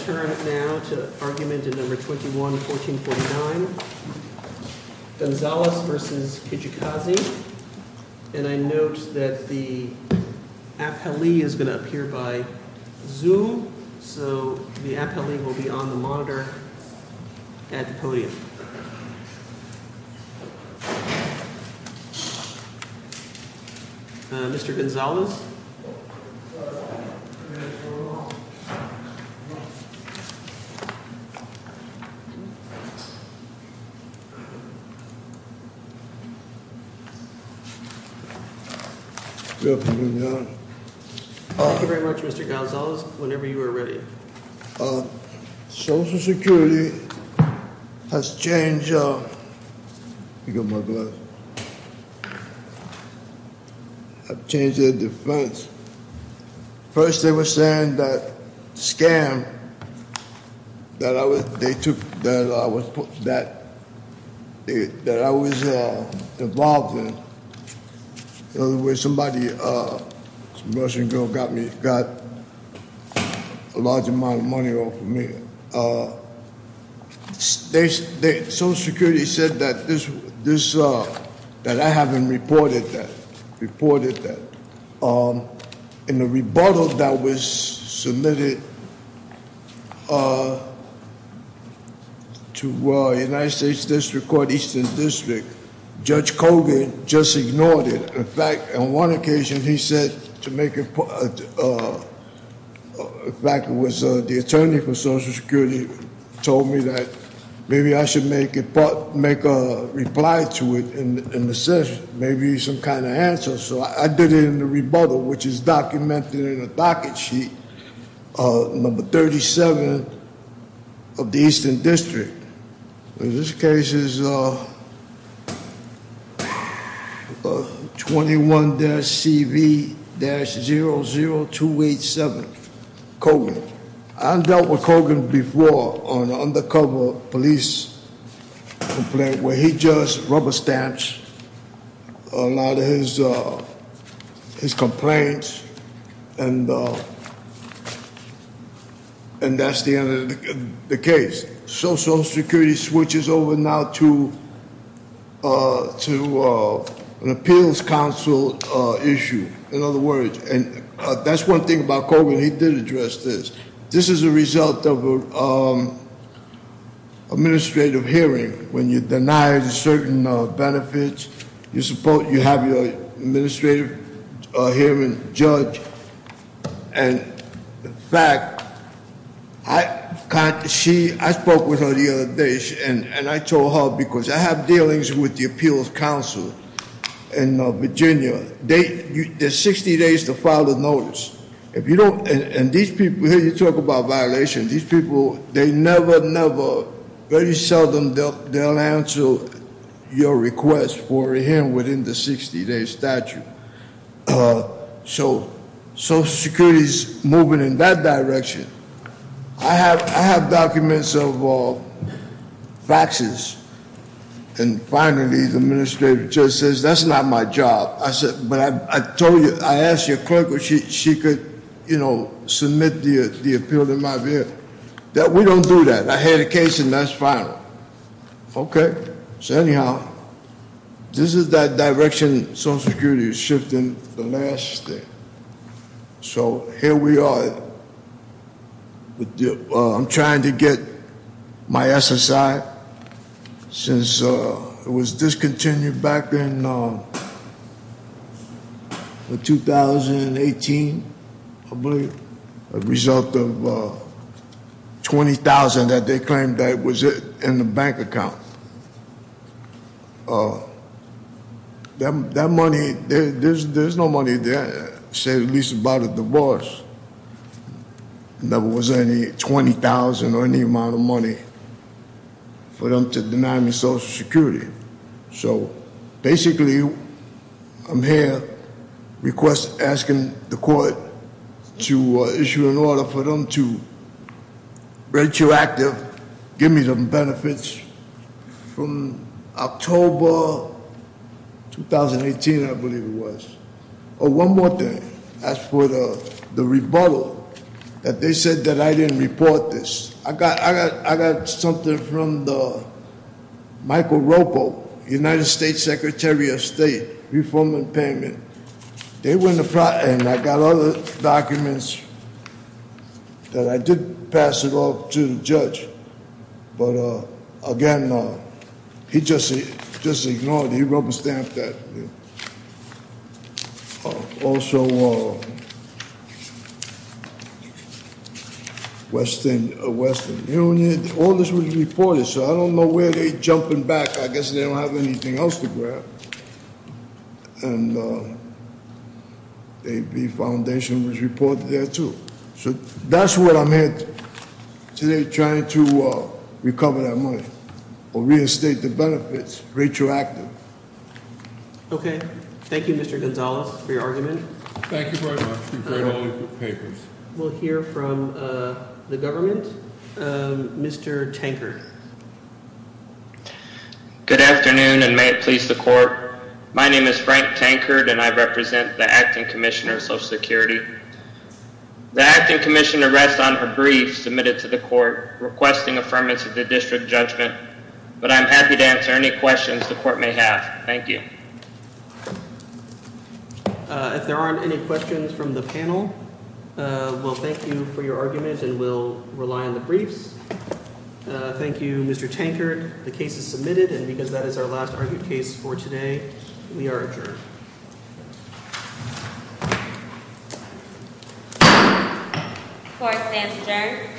I turn now to argument number 21-1449, Gonzalez v. Kijikazi. And I note that the appellee is going to appear by Zoom. So the appellee will be on the monitor at the podium. Thank you very much, Mr. Gonzalez, whenever you are ready. Social Security has changed their defense. First they were saying that the scam that I was involved in, where somebody, a Russian girl, got a large amount of money off of me. Social Security said that I haven't reported that. In the rebuttal that was submitted to the United States District Court, Eastern District, Judge Kogan just ignored it. In fact, on one occasion he said to make it, in fact it was the attorney for Social Security, told me that maybe I should make a reply to it, maybe some kind of answer. So I did it in the rebuttal, which is documented in the docket sheet, number 37 of the Eastern District. And this case is 21-CV-00287, Kogan. I dealt with Kogan before on an undercover police complaint, where he just rubber stamps a lot of his complaints, and that's the end of the case. Social Security switches over now to an appeals council issue, in other words. And that's one thing about Kogan, he did address this. This is a result of an administrative hearing. When you deny certain benefits, you have your administrative hearing judge. And, in fact, I spoke with her the other day, and I told her because I have dealings with the appeals council in Virginia, there's 60 days to file a notice. And these people, you talk about violations, these people, they never, never, very seldom they'll answer your request for a hearing within the 60-day statute. So Social Security's moving in that direction. I have documents of faxes, and finally the administrative judge says, that's not my job. But I told you, I asked your clerk if she could, you know, submit the appeal in my view. We don't do that. I had a case, and that's final. Okay. So anyhow, this is that direction Social Security is shifting the last step. So here we are. I'm trying to get my SSI since it was discontinued back in 2018, I believe, a result of $20,000 that they claimed that was in the bank account. That money, there's no money there. I said at least about a divorce. There never was any $20,000 or any amount of money for them to deny me Social Security. So basically, I'm here requesting, asking the court to issue an order for them to retroactive, give me some benefits from October 2018, I believe it was. Oh, one more thing. As for the rebuttal that they said that I didn't report this, I got something from Michael Ropo, United States Secretary of State, reform and payment. And I got other documents that I did pass it off to the judge. But again, he just ignored it. He rubber stamped that. Also, Western Union, all this was reported. So I don't know where they're jumping back. I guess they don't have anything else to grab. And the foundation was reported there, too. So that's what I'm here today trying to recover that money, or reestate the benefits, retroactive. Okay. Thank you, Mr. Gonzalez, for your argument. Thank you very much. We've read all of your papers. We'll hear from the government. Mr. Tankard. Good afternoon, and may it please the court. My name is Frank Tankard, and I represent the Acting Commissioner of Social Security. The Acting Commissioner rests on her brief submitted to the court, requesting affirmance of the district judgment. But I'm happy to answer any questions the court may have. Thank you. If there aren't any questions from the panel, well, thank you for your argument, and we'll rely on the briefs. Thank you, Mr. Tankard. The case is submitted, and because that is our last argued case for today, we are adjourned. The court stands adjourned.